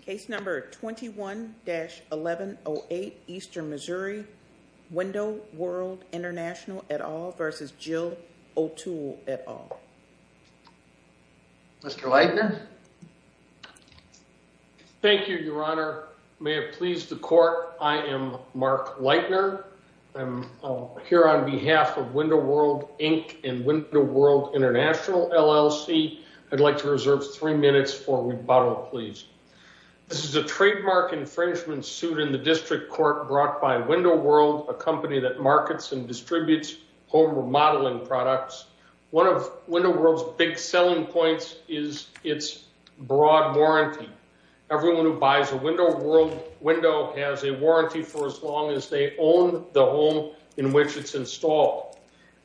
Case number 21-1108 Eastern Missouri, Window World International et al. v. Jill O'Toole et al. Mr. Leitner. Thank you, Your Honor. May it please the court, I am Mark Leitner. I'm here on behalf of Window World Inc. and Window World International LLC. I'd like to reserve three minutes for rebuttal, please. This is a trademark infringement suit in the district court brought by Window World, a company that markets and distributes home remodeling products. One of Window World's big selling points is its broad warranty. Everyone who buys a Window World window has a warranty for as long as they own the home in which it's installed.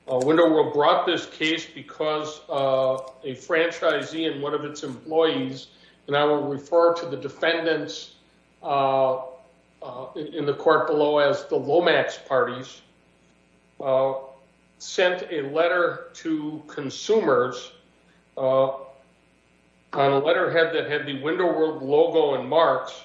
Window World brought this case because a franchisee and one of its employees, and I will refer to the defendants in the court below as the Lomax parties, sent a letter to consumers on a letterhead that had the Window World logo and marks.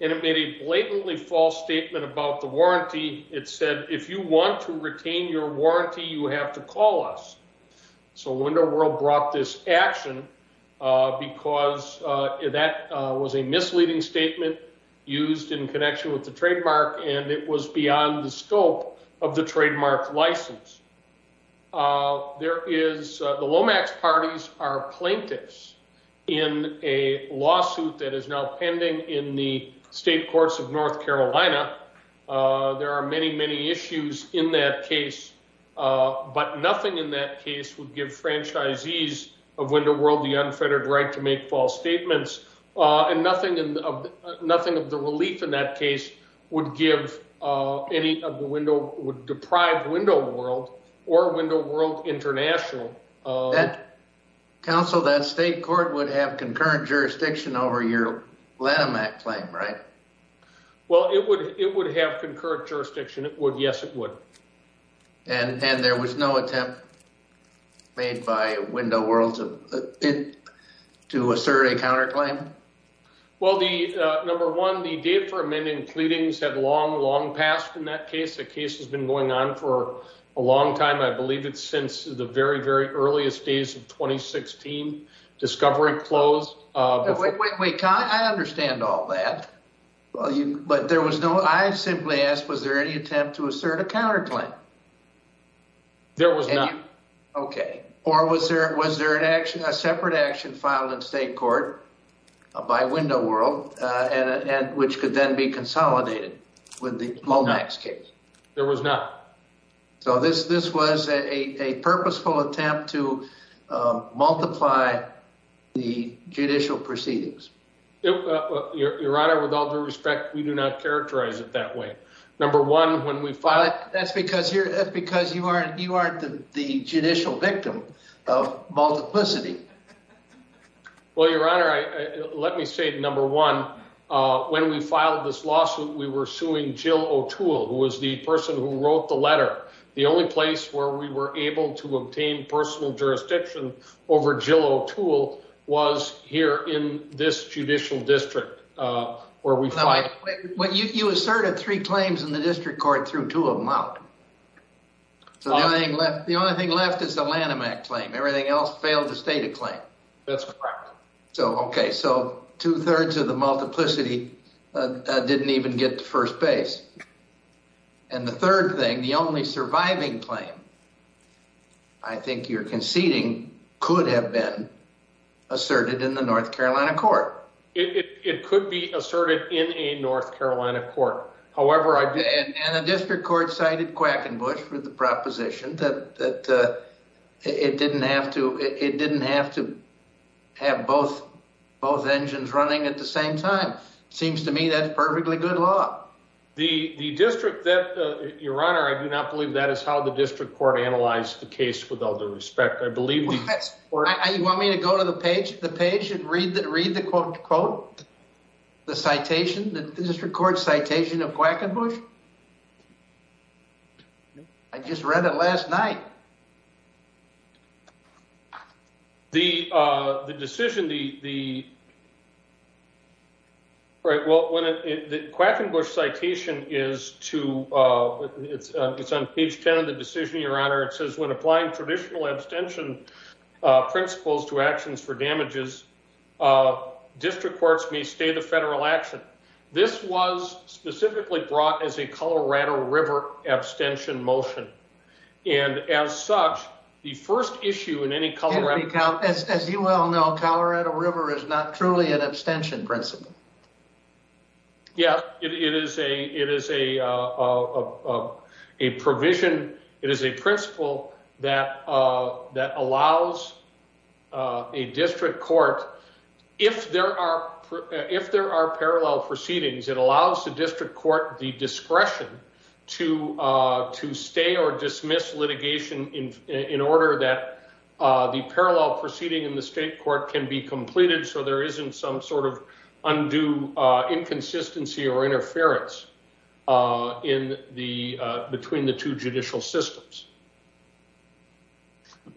It made a blatantly false statement about the warranty. It said, if you want to retain your warranty, you have to call us. So Window World brought this action because that was a misleading statement used in connection with the trademark, and it was beyond the scope of the trademark license. The Lomax parties are plaintiffs in a lawsuit that is now pending in the state courts of North Carolina. There are many, many issues in that case, but nothing in that case would give franchisees of Window World the unfettered right to make false statements, and nothing of the relief in that case would deprive Window World or Window World International. That state court would have concurrent jurisdiction over your Lattimac claim, right? Well, it would have concurrent jurisdiction. Yes, it would. And there was no attempt made by Window World to assert a counterclaim? Well, number one, the date for amending pleadings had long, long passed in that case. The case has been going on for a long time. I believe it's since the very, very earliest days of 2016, discovery closed. Wait, wait, wait. I understand all that, but there was no, I simply ask, was there any attempt to assert a counterclaim? There was not. Okay. Or was there a separate action filed in state court by Window World, which could then be consolidated with the Lomax case? There was not. So this was a purposeful attempt to multiply the judicial proceedings? Your Honor, with all due respect, we do not characterize it that way. That's because you aren't the judicial victim of multiplicity. Well, Your Honor, let me say, number one, when we filed this lawsuit, we were suing Jill O'Toole, who was the person who wrote the letter. The only place where we were able to obtain personal jurisdiction over Jill O'Toole was here in this judicial district where we filed. You asserted three claims in the district court, threw two of them out. So the only thing left is the Lanham Act claim. Everything else failed to state a claim. That's correct. So, okay. So two-thirds of the multiplicity didn't even get to first base. And the third thing, the only surviving claim, I think you're conceding, could have been asserted in the North Carolina court. It could be asserted in a North Carolina court. However, I did... And the district court cited Quackenbush for the proposition that it didn't have to have both engines running at the same time. Seems to me that's perfectly good law. The district that, Your Honor, I do not believe that is how the district court analyzed the case with all due respect. I believe... You want me to go to the page and read the quote, quote, the citation, the district court citation of Quackenbush? I just read it last night. The decision, the... All right. Well, the Quackenbush citation is to... It's on page 10 of the decision, Your Honor. It says, when applying traditional abstention principles to actions for damages, district courts may stay the federal action. This was specifically brought as a Colorado River abstention motion. And as such, the first issue in any Colorado... As you well know, Colorado River is not truly an abstention principle. Yeah. It is a provision. It is a principle that allows a district court, if there are parallel proceedings, it allows the district court the discretion to stay or dismiss litigation in order that the parallel proceeding in the state court can be completed so there isn't some sort of undue inconsistency or interference between the two judicial systems.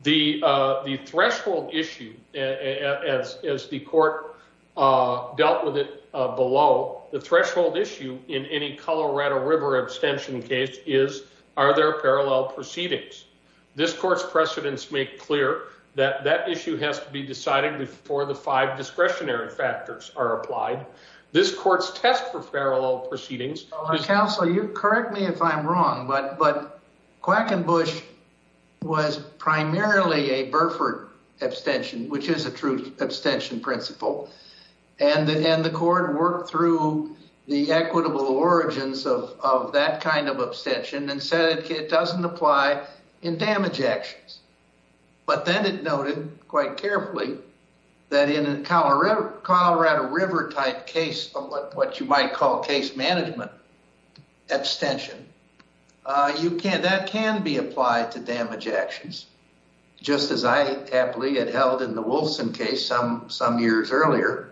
The threshold issue, as the court dealt with it below, the threshold issue in any Colorado River abstention case is, are there parallel proceedings? This court's precedents make clear that that for the five discretionary factors are applied. This court's test for parallel proceedings... Counsel, you correct me if I'm wrong, but Quackenbush was primarily a Burford abstention, which is a true abstention principle. And the court worked through the equitable origins of that kind of abstention and said it doesn't apply in damage actions. But then it noted quite carefully that in a Colorado River type case of what you might call case management abstention, that can be applied to damage actions, just as I happily had held in the Wolfson case some years earlier.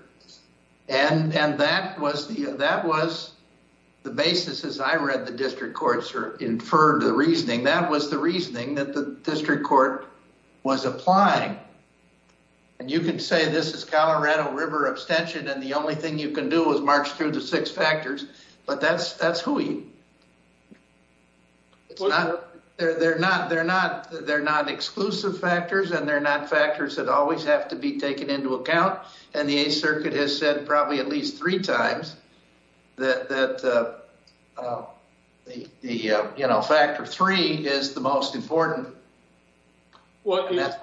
And that was the basis, as I read the district courts inferred the reasoning, that was the reasoning that the district court was applying. And you could say this is Colorado River abstention and the only thing you can do is march through the six factors, but that's who you... It's not, they're not, they're not, they're not exclusive factors and they're not factors that always have to be taken into account. And the Eighth Circuit has said probably at least three times that the, you know, factor three is the most important. Well, that's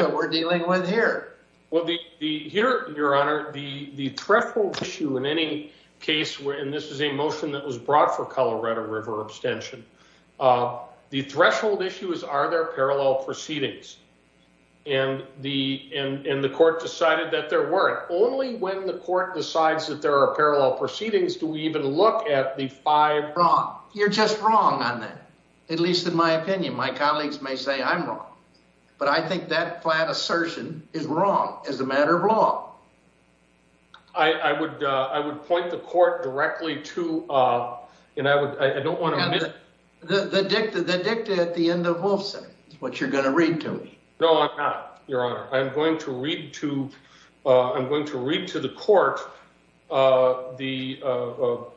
what we're dealing with here. Well, here, your honor, the threshold issue in any case where, and this is a motion that was brought for Colorado River abstention, the threshold issue is are there parallel proceedings? And the court decided that there weren't. Only when the court decides that there are parallel proceedings, do we even look at the five... Wrong. You're just wrong on that. At least in my opinion, my colleagues may say I'm wrong, but I think that flat assertion is wrong as a matter of law. I would point the court directly to, and I don't want to... The dicta at the end of Wolfson is what you're going to read to me. No, I'm not, your honor. I'm going to read to, I'm going to read to the court the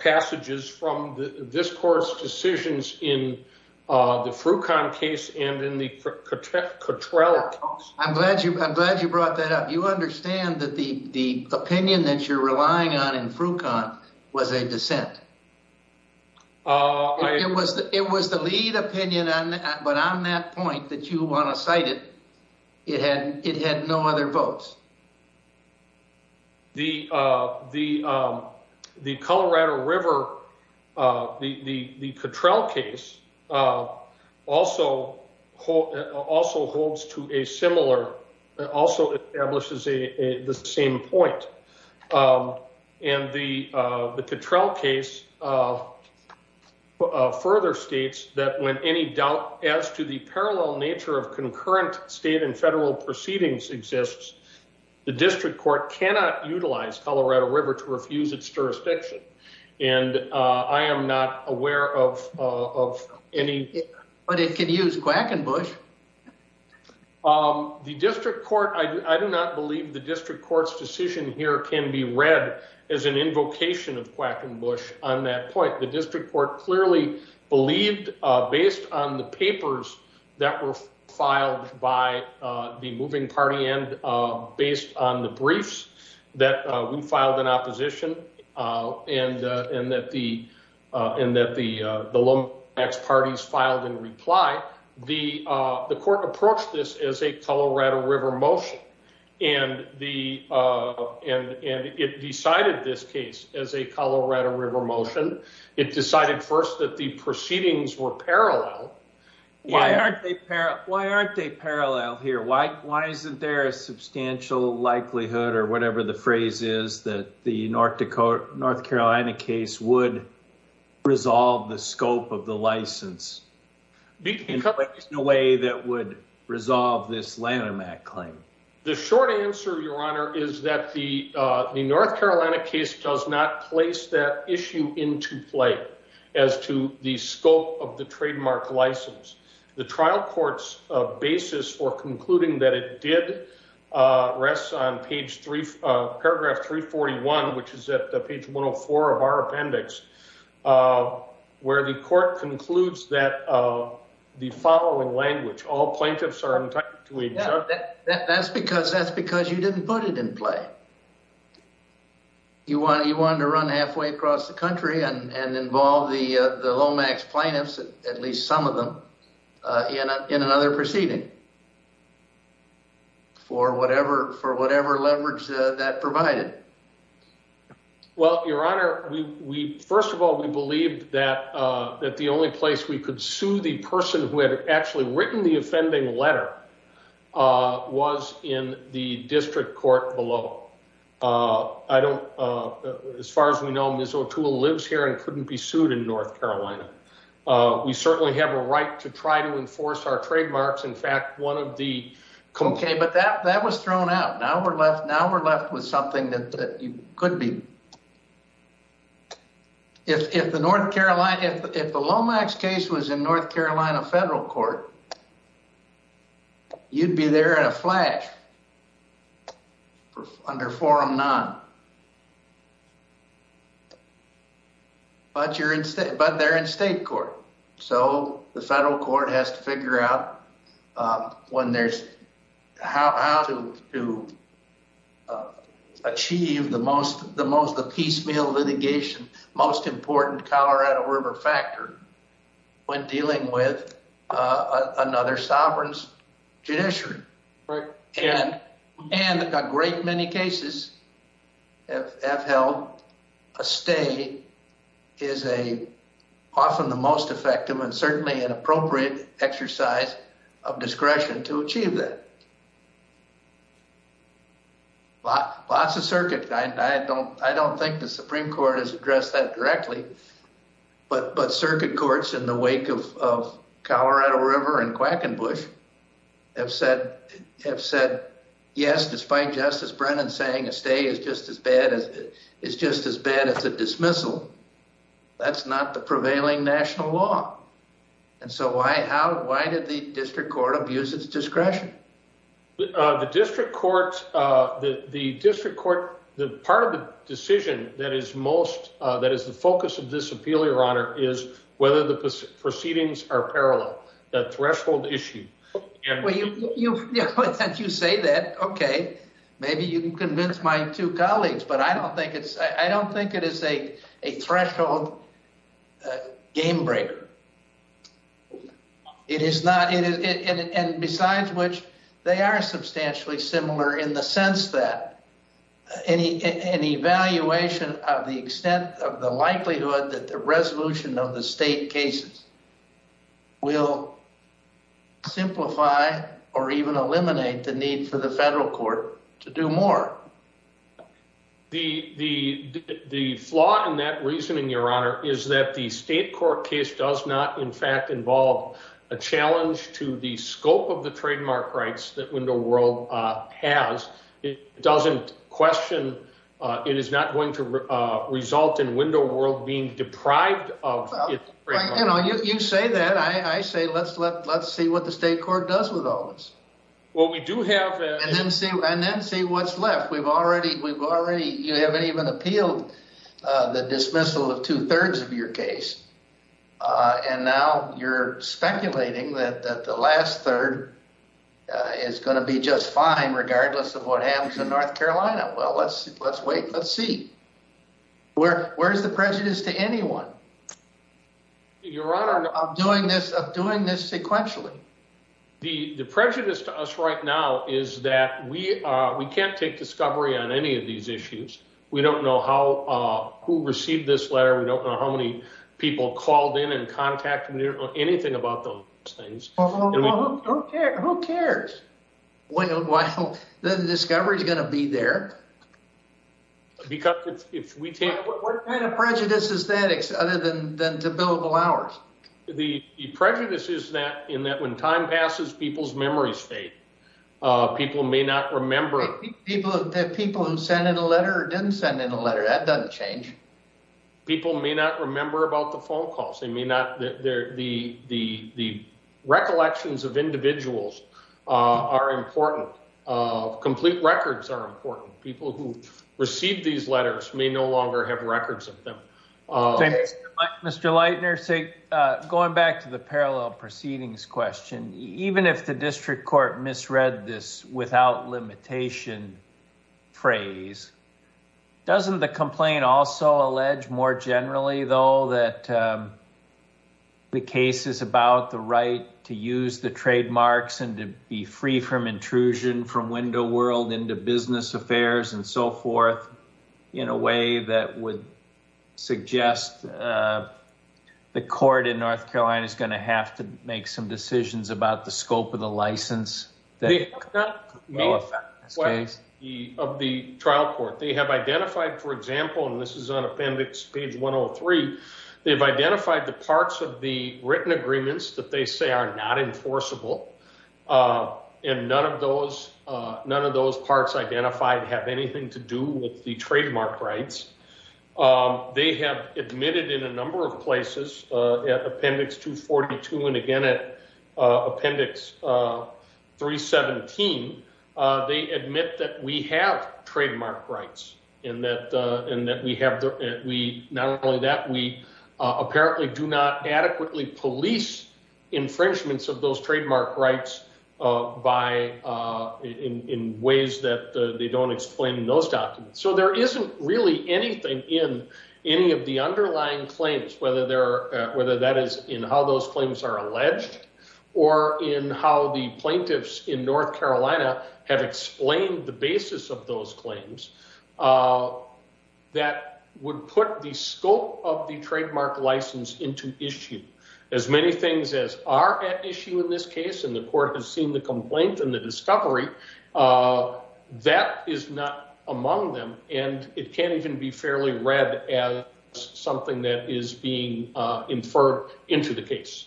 passages from this court's decisions in the Frucon case and in the Cottrell case. I'm glad you, I'm glad you brought that up. You understand that the, the opinion that you're relying on in Frucon was a dissent. It was the, it was the lead opinion on that, but on that point that you want to cite it, it had, it had no other votes. The Colorado River, the Cottrell case also holds to a similar, also establishes the same point. And the Cottrell case further states that when any doubt as to the parallel nature of concurrent state and federal proceedings exists, the district court cannot utilize Colorado River to refuse its jurisdiction. And I am not aware of any... But it could use Quackenbush. The district court, I do not believe the district court's decision here can be read as an invocation of Quackenbush on that point. The district court clearly believed based on the papers that were filed by the moving party and based on the briefs that we filed in opposition and that the Lomax parties filed in reply, the court approached this as a Colorado River motion. And it decided this case as a Colorado River motion. It decided first that the proceedings were parallel. Why aren't they parallel here? Why isn't there a substantial likelihood or whatever the phrase is that the North Dakota, North Carolina case would resolve the scope of the license in a way that would resolve this Lanham Act claim? The short answer, Your Honor, is that the North Carolina case does not place that issue into play as to the scope of the trademark license. The trial court's basis for concluding that it did rests on paragraph 341, which is at page 104 of our appendix, where the court concludes that the following language, all plaintiffs are entitled to a... That's because you didn't put it in play. You wanted to run halfway across the country and involve the Lomax plaintiffs, at least some of them, in another proceeding for whatever leverage that provided. Well, Your Honor, first of all, we believed that the only place we could sue the person who had actually written the offending letter was in the district court below. As far as we know, Ms. O'Toole lives here and couldn't be sued in North Carolina. We certainly have a right to try to enforce our trademarks. In fact, one of the... Okay, but that was thrown out. Now we're left with something that you could be. If the Lomax case was in North Carolina federal court, you'd be there in a flash under Forum None. But they're in state court, so the federal court has to figure out how to achieve the most piecemeal litigation, most important Colorado River factor, when dealing with another sovereign's judiciary. And a great many cases have held a stay is often the most effective and certainly an appropriate exercise of discretion to achieve that. Lots of circuit... I don't think the Supreme Court has addressed that directly, but circuit courts in the wake of Colorado River and Quackenbush have said, yes, despite Justice Brennan saying a stay is just as bad as a dismissal, that's not the prevailing national law. And so why did the district court abuse its discretion? The district court, the part of the decision that is the focus of this Appeal, Your Honor, is whether the proceedings are parallel, the threshold issue. Well, since you say that, okay, maybe you can convince my two colleagues, but I don't think it's... I don't think it is a threshold game breaker. It is not... And besides which, they are substantially similar in the sense that an evaluation of the extent of the likelihood that the resolution of the state cases will simplify or even eliminate the need for the federal court to do more. The flaw in that reasoning, Your Honor, is that the state court case does not, in fact, involve a challenge to the scope of the trademark rights that Window World has. It doesn't question... It is not going to result in Window World being deprived of... You know, you say that. I say, let's see what the state court does with all this. Well, we do have... And then see what's left. We've already... You haven't even appealed the dismissal of two-thirds of your case, and now you're speculating that the last third is going to be just fine regardless of what happens in North Carolina. Well, let's wait and let's see. Where's the prejudice to anyone? Your Honor... Of doing this sequentially. The prejudice to us right now is that we can't take discovery on any of these issues. We don't know who received this letter. We don't know how many people called in and contacted. We don't know anything about those things. Who cares? Well, then the discovery is going to be there. Because if we take... What kind of prejudice is that other than the billable hours? The prejudice is that when time passes, people's memories fade. People may not remember... People who sent in a letter or didn't send in a letter, that doesn't change. People may not remember about the phone calls. The recollections of individuals are important. Complete records are important. People who received these letters may no longer have records of them. Mr. Leitner, going back to the parallel proceedings question, even if the district court misread this without limitation phrase, doesn't the complaint also allege more generally, though, that the case is about the right to use the trademarks and to be free from intrusion from window world into business affairs and so forth, in a way that would suggest the court in North Carolina is going to have to make some decisions about the scope of the license? Of the trial court. They have identified, for example, and this is on appendix page 103, they've identified the parts of the written agreements that they say are not enforceable. And none of those parts identified have anything to do with the trademark rights. They have admitted in a number of places, at appendix 242 and again at appendix 317, they admit that we have trademark rights. And that we have... Not only that, we apparently do not adequately police infringements of those trademark rights in ways that they don't explain in those documents. So there isn't really anything in any of the underlying claims, whether that is in how those claims are alleged or in how the plaintiffs in North Carolina have explained the basis of those claims that would put the scope of the trademark license into issue. As many things as are at issue in this case, and the court has seen the complaint and the discovery, that is not among them. And it can't even be fairly read as something that is being inferred into the case.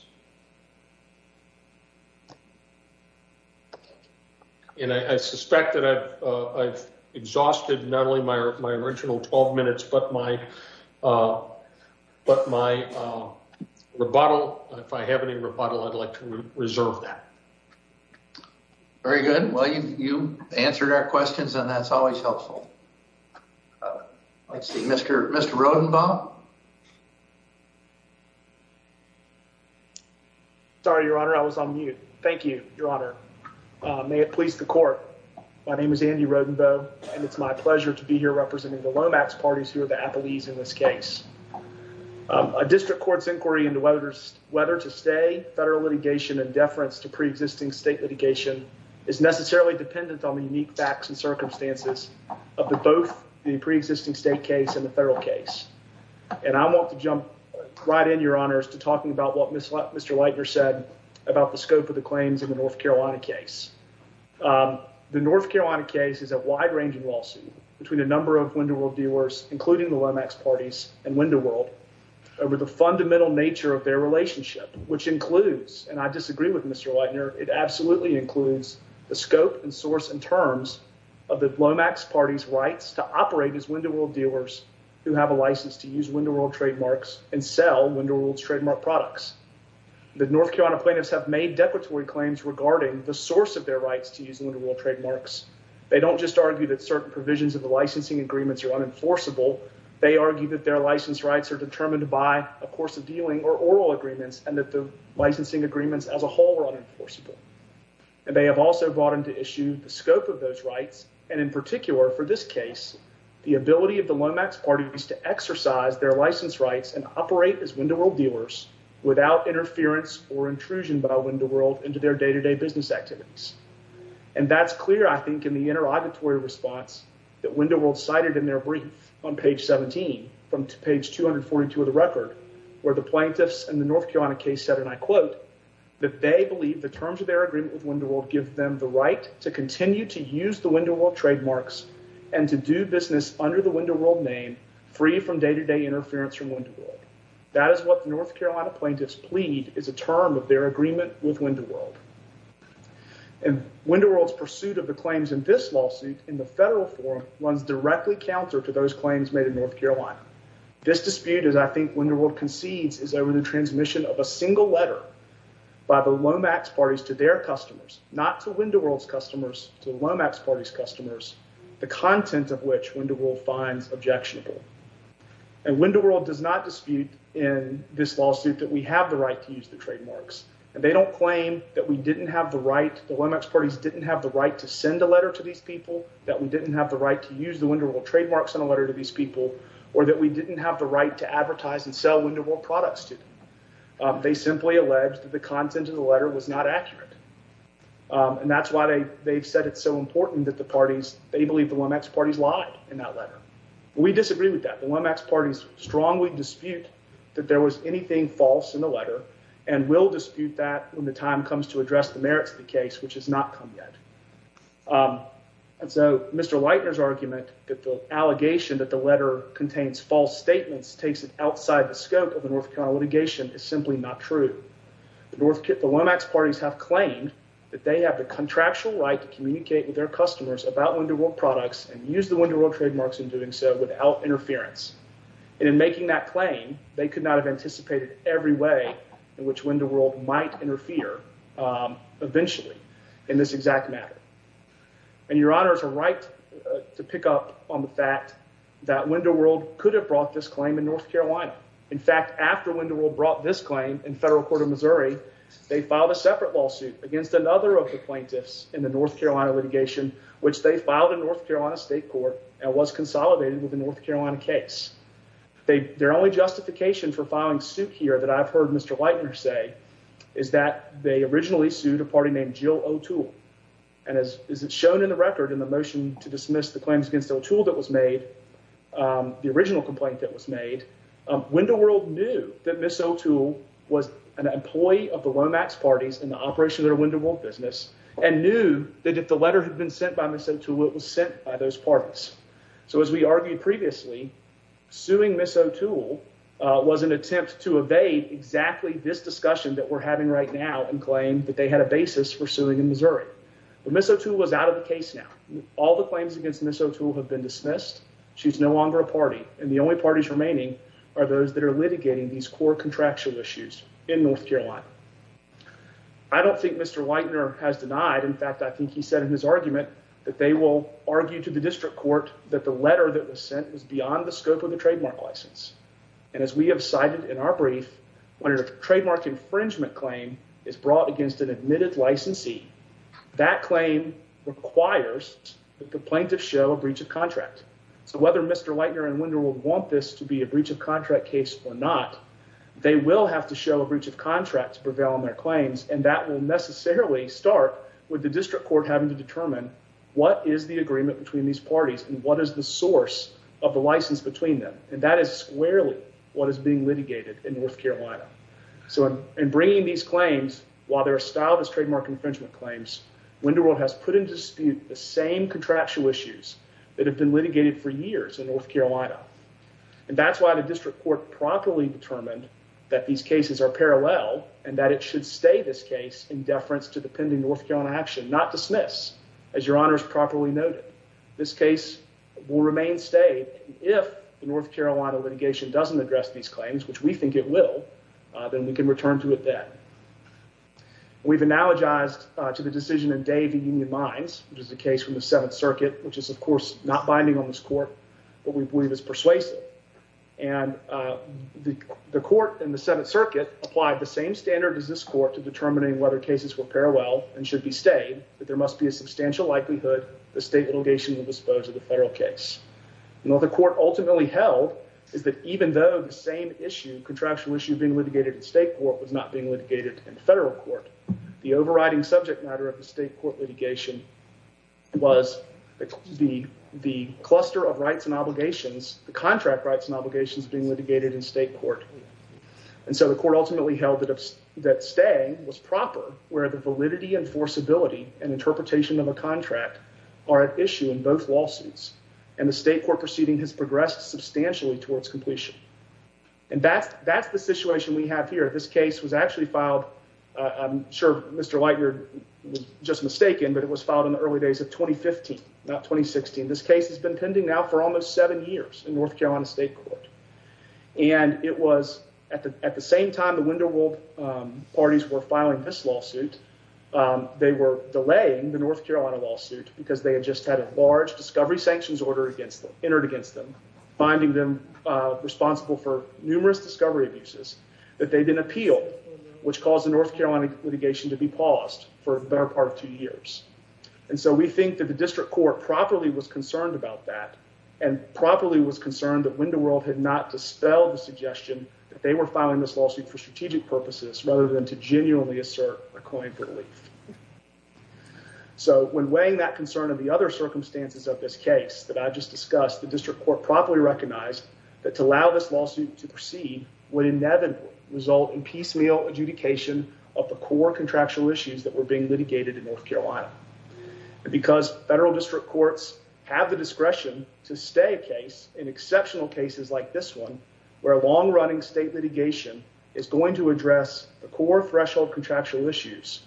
And I suspect that I've exhausted not only my original 12 minutes, but my rebuttal. If I have any rebuttal, I'd like to reserve that. Very good. Well, you answered our questions and that's always helpful. Let's see, Mr. Rodenbaugh? Sorry, Your Honor, I was on mute. Thank you, Your Honor. May it please the court, my name is Andy Rodenbaugh, and it's my pleasure to be here representing the Lomax parties who are the appellees in this case. A district court's inquiry into whether to stay federal litigation in deference to pre-existing state litigation is necessarily dependent on unique facts and circumstances of both the pre-existing state case and the federal case. And I want to jump right in, Your Honor, to talking about what Mr. Leitner said about the scope of the claims in the North Carolina case. The North Carolina case is a wide-ranging lawsuit between a number of Window World dealers, including the Lomax parties and Window World, over the fundamental nature of their relationship, which includes, and I disagree with of the Lomax parties' rights to operate as Window World dealers who have a license to use Window World trademarks and sell Window World's trademark products. The North Carolina plaintiffs have made declaratory claims regarding the source of their rights to use Window World trademarks. They don't just argue that certain provisions of the licensing agreements are unenforceable, they argue that their license rights are determined by a course of dealing or oral agreements and that the licensing agreements as a whole are unenforceable. And they have also brought to issue the scope of those rights, and in particular, for this case, the ability of the Lomax parties to exercise their license rights and operate as Window World dealers without interference or intrusion by Window World into their day-to-day business activities. And that's clear, I think, in the inter-auditory response that Window World cited in their brief on page 17, from page 242 of the record, where the plaintiffs in the North Carolina case said, that they believe the terms of their agreement with Window World give them the right to continue to use the Window World trademarks and to do business under the Window World name, free from day-to-day interference from Window World. That is what the North Carolina plaintiffs plead is a term of their agreement with Window World. And Window World's pursuit of the claims in this lawsuit in the federal forum runs directly counter to those claims made in North Carolina. This dispute, as I think Window World concedes, is over the transmission of a single letter by the Lomax parties to their customers, not to Window World's customers, to Lomax parties' customers, the content of which Window World finds objectionable. And Window World does not dispute in this lawsuit that we have the right to use the trademarks. And they don't claim that we didn't have the right, the Lomax parties didn't have the right to send a letter to these people, that we didn't have the right to use the Window World trademarks on a letter to these people, or that we didn't have the right to advertise and sell Window World products to them. They simply alleged that the content of the letter was not accurate. And that's why they've said it's so important that the parties, they believe the Lomax parties lied in that letter. We disagree with that. The Lomax parties strongly dispute that there was anything false in the letter and will dispute that when the time comes to address the merits of the that the letter contains false statements takes it outside the scope of the North Carolina litigation is simply not true. The Lomax parties have claimed that they have the contractual right to communicate with their customers about Window World products and use the Window World trademarks in doing so without interference. And in making that claim, they could not have anticipated every way in which Window World might interfere eventually in this exact matter. And your honors are right to pick up on the fact that Window World could have brought this claim in North Carolina. In fact, after Window World brought this claim in federal court of Missouri, they filed a separate lawsuit against another of the plaintiffs in the North Carolina litigation, which they filed in North Carolina state court and was consolidated with the North Carolina case. Their only justification for filing suit here that I've heard Mr. Leitner say is that they originally sued a party named Jill O'Toole. And as is shown in the record in the motion to dismiss the claims against O'Toole that was made, the original complaint that was made, Window World knew that Ms. O'Toole was an employee of the Lomax parties in the operation of their Window World business and knew that if the letter had been sent by Ms. O'Toole, it was sent by those parties. So as we argued previously, suing Ms. O'Toole was an attempt to evade exactly this discussion that we're having right now and claim that they had a basis for suing in Missouri. But Ms. O'Toole was out of the case now. All the claims against Ms. O'Toole have been dismissed. She's no longer a party. And the only parties remaining are those that are litigating these core contractual issues in North Carolina. I don't think Mr. Leitner has denied. In fact, I think he said in his argument that they will argue to the district court that the letter that was sent was beyond the scope of the trademark license. And as we have cited in our brief, when a trademark infringement claim is brought against an admitted licensee, that claim requires the plaintiff show a breach of contract. So whether Mr. Leitner and Window World want this to be a breach of contract case or not, they will have to show a breach of contract to prevail on their claims. And that will necessarily start with the district court having to determine what is the agreement between these parties and what is the litigated in North Carolina. So in bringing these claims, while they're styled as trademark infringement claims, Window World has put into dispute the same contractual issues that have been litigated for years in North Carolina. And that's why the district court properly determined that these cases are parallel and that it should stay this case in deference to the pending North Carolina action, not dismiss, as your honors properly noted. This case will remain stayed if the North Carolina litigation doesn't address these claims, which we think it will, then we can return to it then. We've analogized to the decision in Davey Union Mines, which is a case from the Seventh Circuit, which is of course not binding on this court, but we believe is persuasive. And the court in the Seventh Circuit applied the same standard as this court to determining whether cases were parallel and should be stayed, that there must be a substantial likelihood the state litigation will dispose of the federal case. And what the court ultimately held is that even though the same issue, contractual issue, being litigated in state court was not being litigated in federal court, the overriding subject matter of the state court litigation was the cluster of rights and obligations, the contract rights and obligations being litigated in state court. And so the court ultimately held that staying was proper, where the validity and forcibility and interpretation of a contract are at issue in both lawsuits. And the state court proceeding has progressed substantially towards completion. And that's the situation we have here. This case was actually filed, I'm sure Mr. Lightyear was just mistaken, but it was filed in the early days of 2015, not 2016. This case has been pending now for almost seven years in North Carolina State Court. And it was at the same time the Wendell World parties were filing this lawsuit, they were delaying the North Carolina lawsuit because they had just had a large discovery sanctions order entered against them, finding them responsible for numerous discovery abuses that they didn't appeal, which caused the North Carolina litigation to be paused for the better part of two years. And so we think that the district court properly was concerned about that and properly was concerned that Wendell World had not dispelled the suggestion that they were filing this lawsuit for strategic purposes rather than to genuinely assert a coin for relief. So when weighing that concern of the other circumstances of this case that I just discussed, the district court properly recognized that to allow this lawsuit to proceed would inevitably result in piecemeal adjudication of the core contractual issues that were being litigated in North Carolina. Because federal district courts have the discretion to stay a exceptional cases like this one, where long running state litigation is going to address the core threshold contractual issues.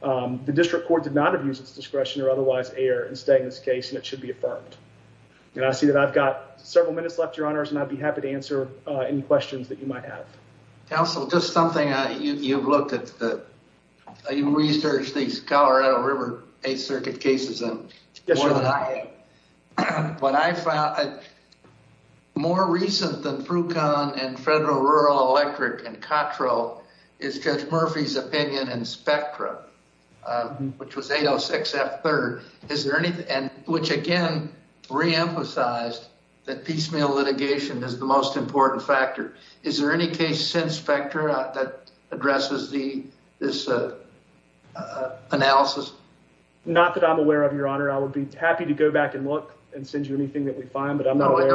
The district court did not abuse its discretion or otherwise err and stay in this case and it should be affirmed. And I see that I've got several minutes left, your honors, and I'd be happy to answer any questions that you might have. Counsel, just something you've looked at, you researched these Colorado River Eighth Circuit cases more than I have. More recent than Frucon and Federal Rural Electric and Cotrell is Judge Murphy's opinion in Spectra, which was 806 F3rd, which again re-emphasized that piecemeal litigation is the most important factor. Is there any case since Not that I'm aware of, your honor. I would be happy to go back and look and send you anything that we find, but I'm not aware.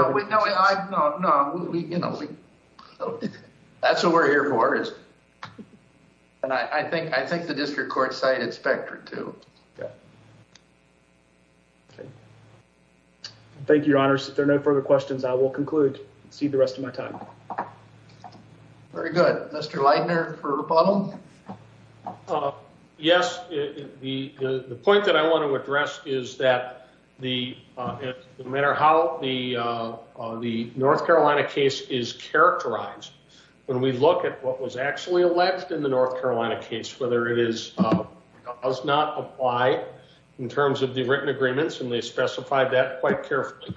That's what we're here for. And I think the district court cited Spectra too. Thank you, your honors. If there are no further questions, I will conclude. See the rest of my time. Very good. Mr. Leidner for Repuddle. Yes. The point that I want to address is that the, no matter how the North Carolina case is characterized, when we look at what was actually alleged in the North Carolina case, whether it is, does not apply in terms of the written agreements, and they specified that quite carefully,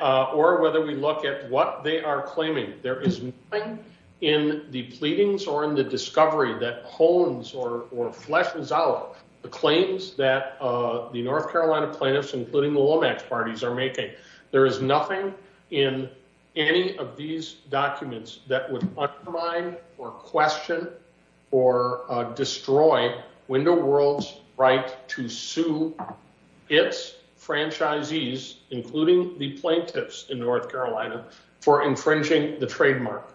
or whether we look at what they are claiming, there is nothing in the pleadings or in the discovery that hones or fleshes out the claims that the North Carolina plaintiffs, including the Lomax parties are making. There is nothing in any of these documents that would undermine or question or destroy Window World's right to sue its franchisees, including the plaintiffs in North Carolina, for infringing the trademark.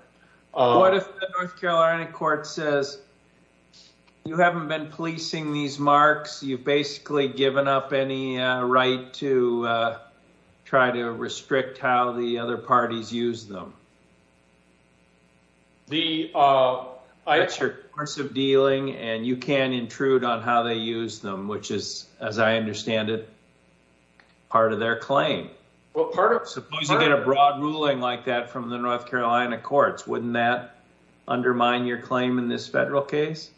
What if the North Carolina court says, you haven't been policing these marks. You've basically given up any right to try to restrict how the other parties use them. That's your course of dealing, and you can intrude on how they use them, which is, as I understand it, part of their claim. Suppose you get a broad ruling like that from the North Carolina courts, wouldn't that undermine your claim in this federal case?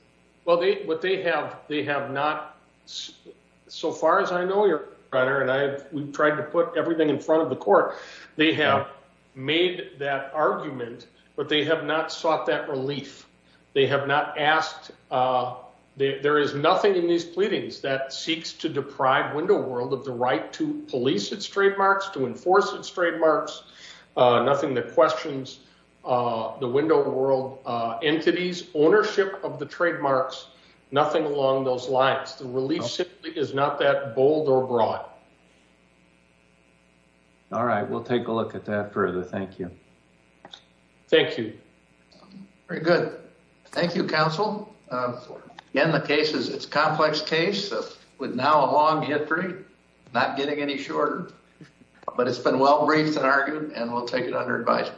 Well, what they have, they have not, so far as I know, your Honor, and we've tried to put everything in front of the court, they have made that argument, but they have not sought that relief. They have not asked, there is nothing in these pleadings that seeks to deprive Window World of the right to police its trademarks, to enforce its trademarks, nothing that questions the Window World entities' ownership of the trademarks, nothing along those lines. The relief simply is not that bold or broad. All right, we'll take a look at that further. Thank you. Thank you. Very good. Thank you, counsel. Again, the case is, it's a complex case with now a long history, not getting any shorter, but it's been well-briefed and argued, and we'll take it under advice.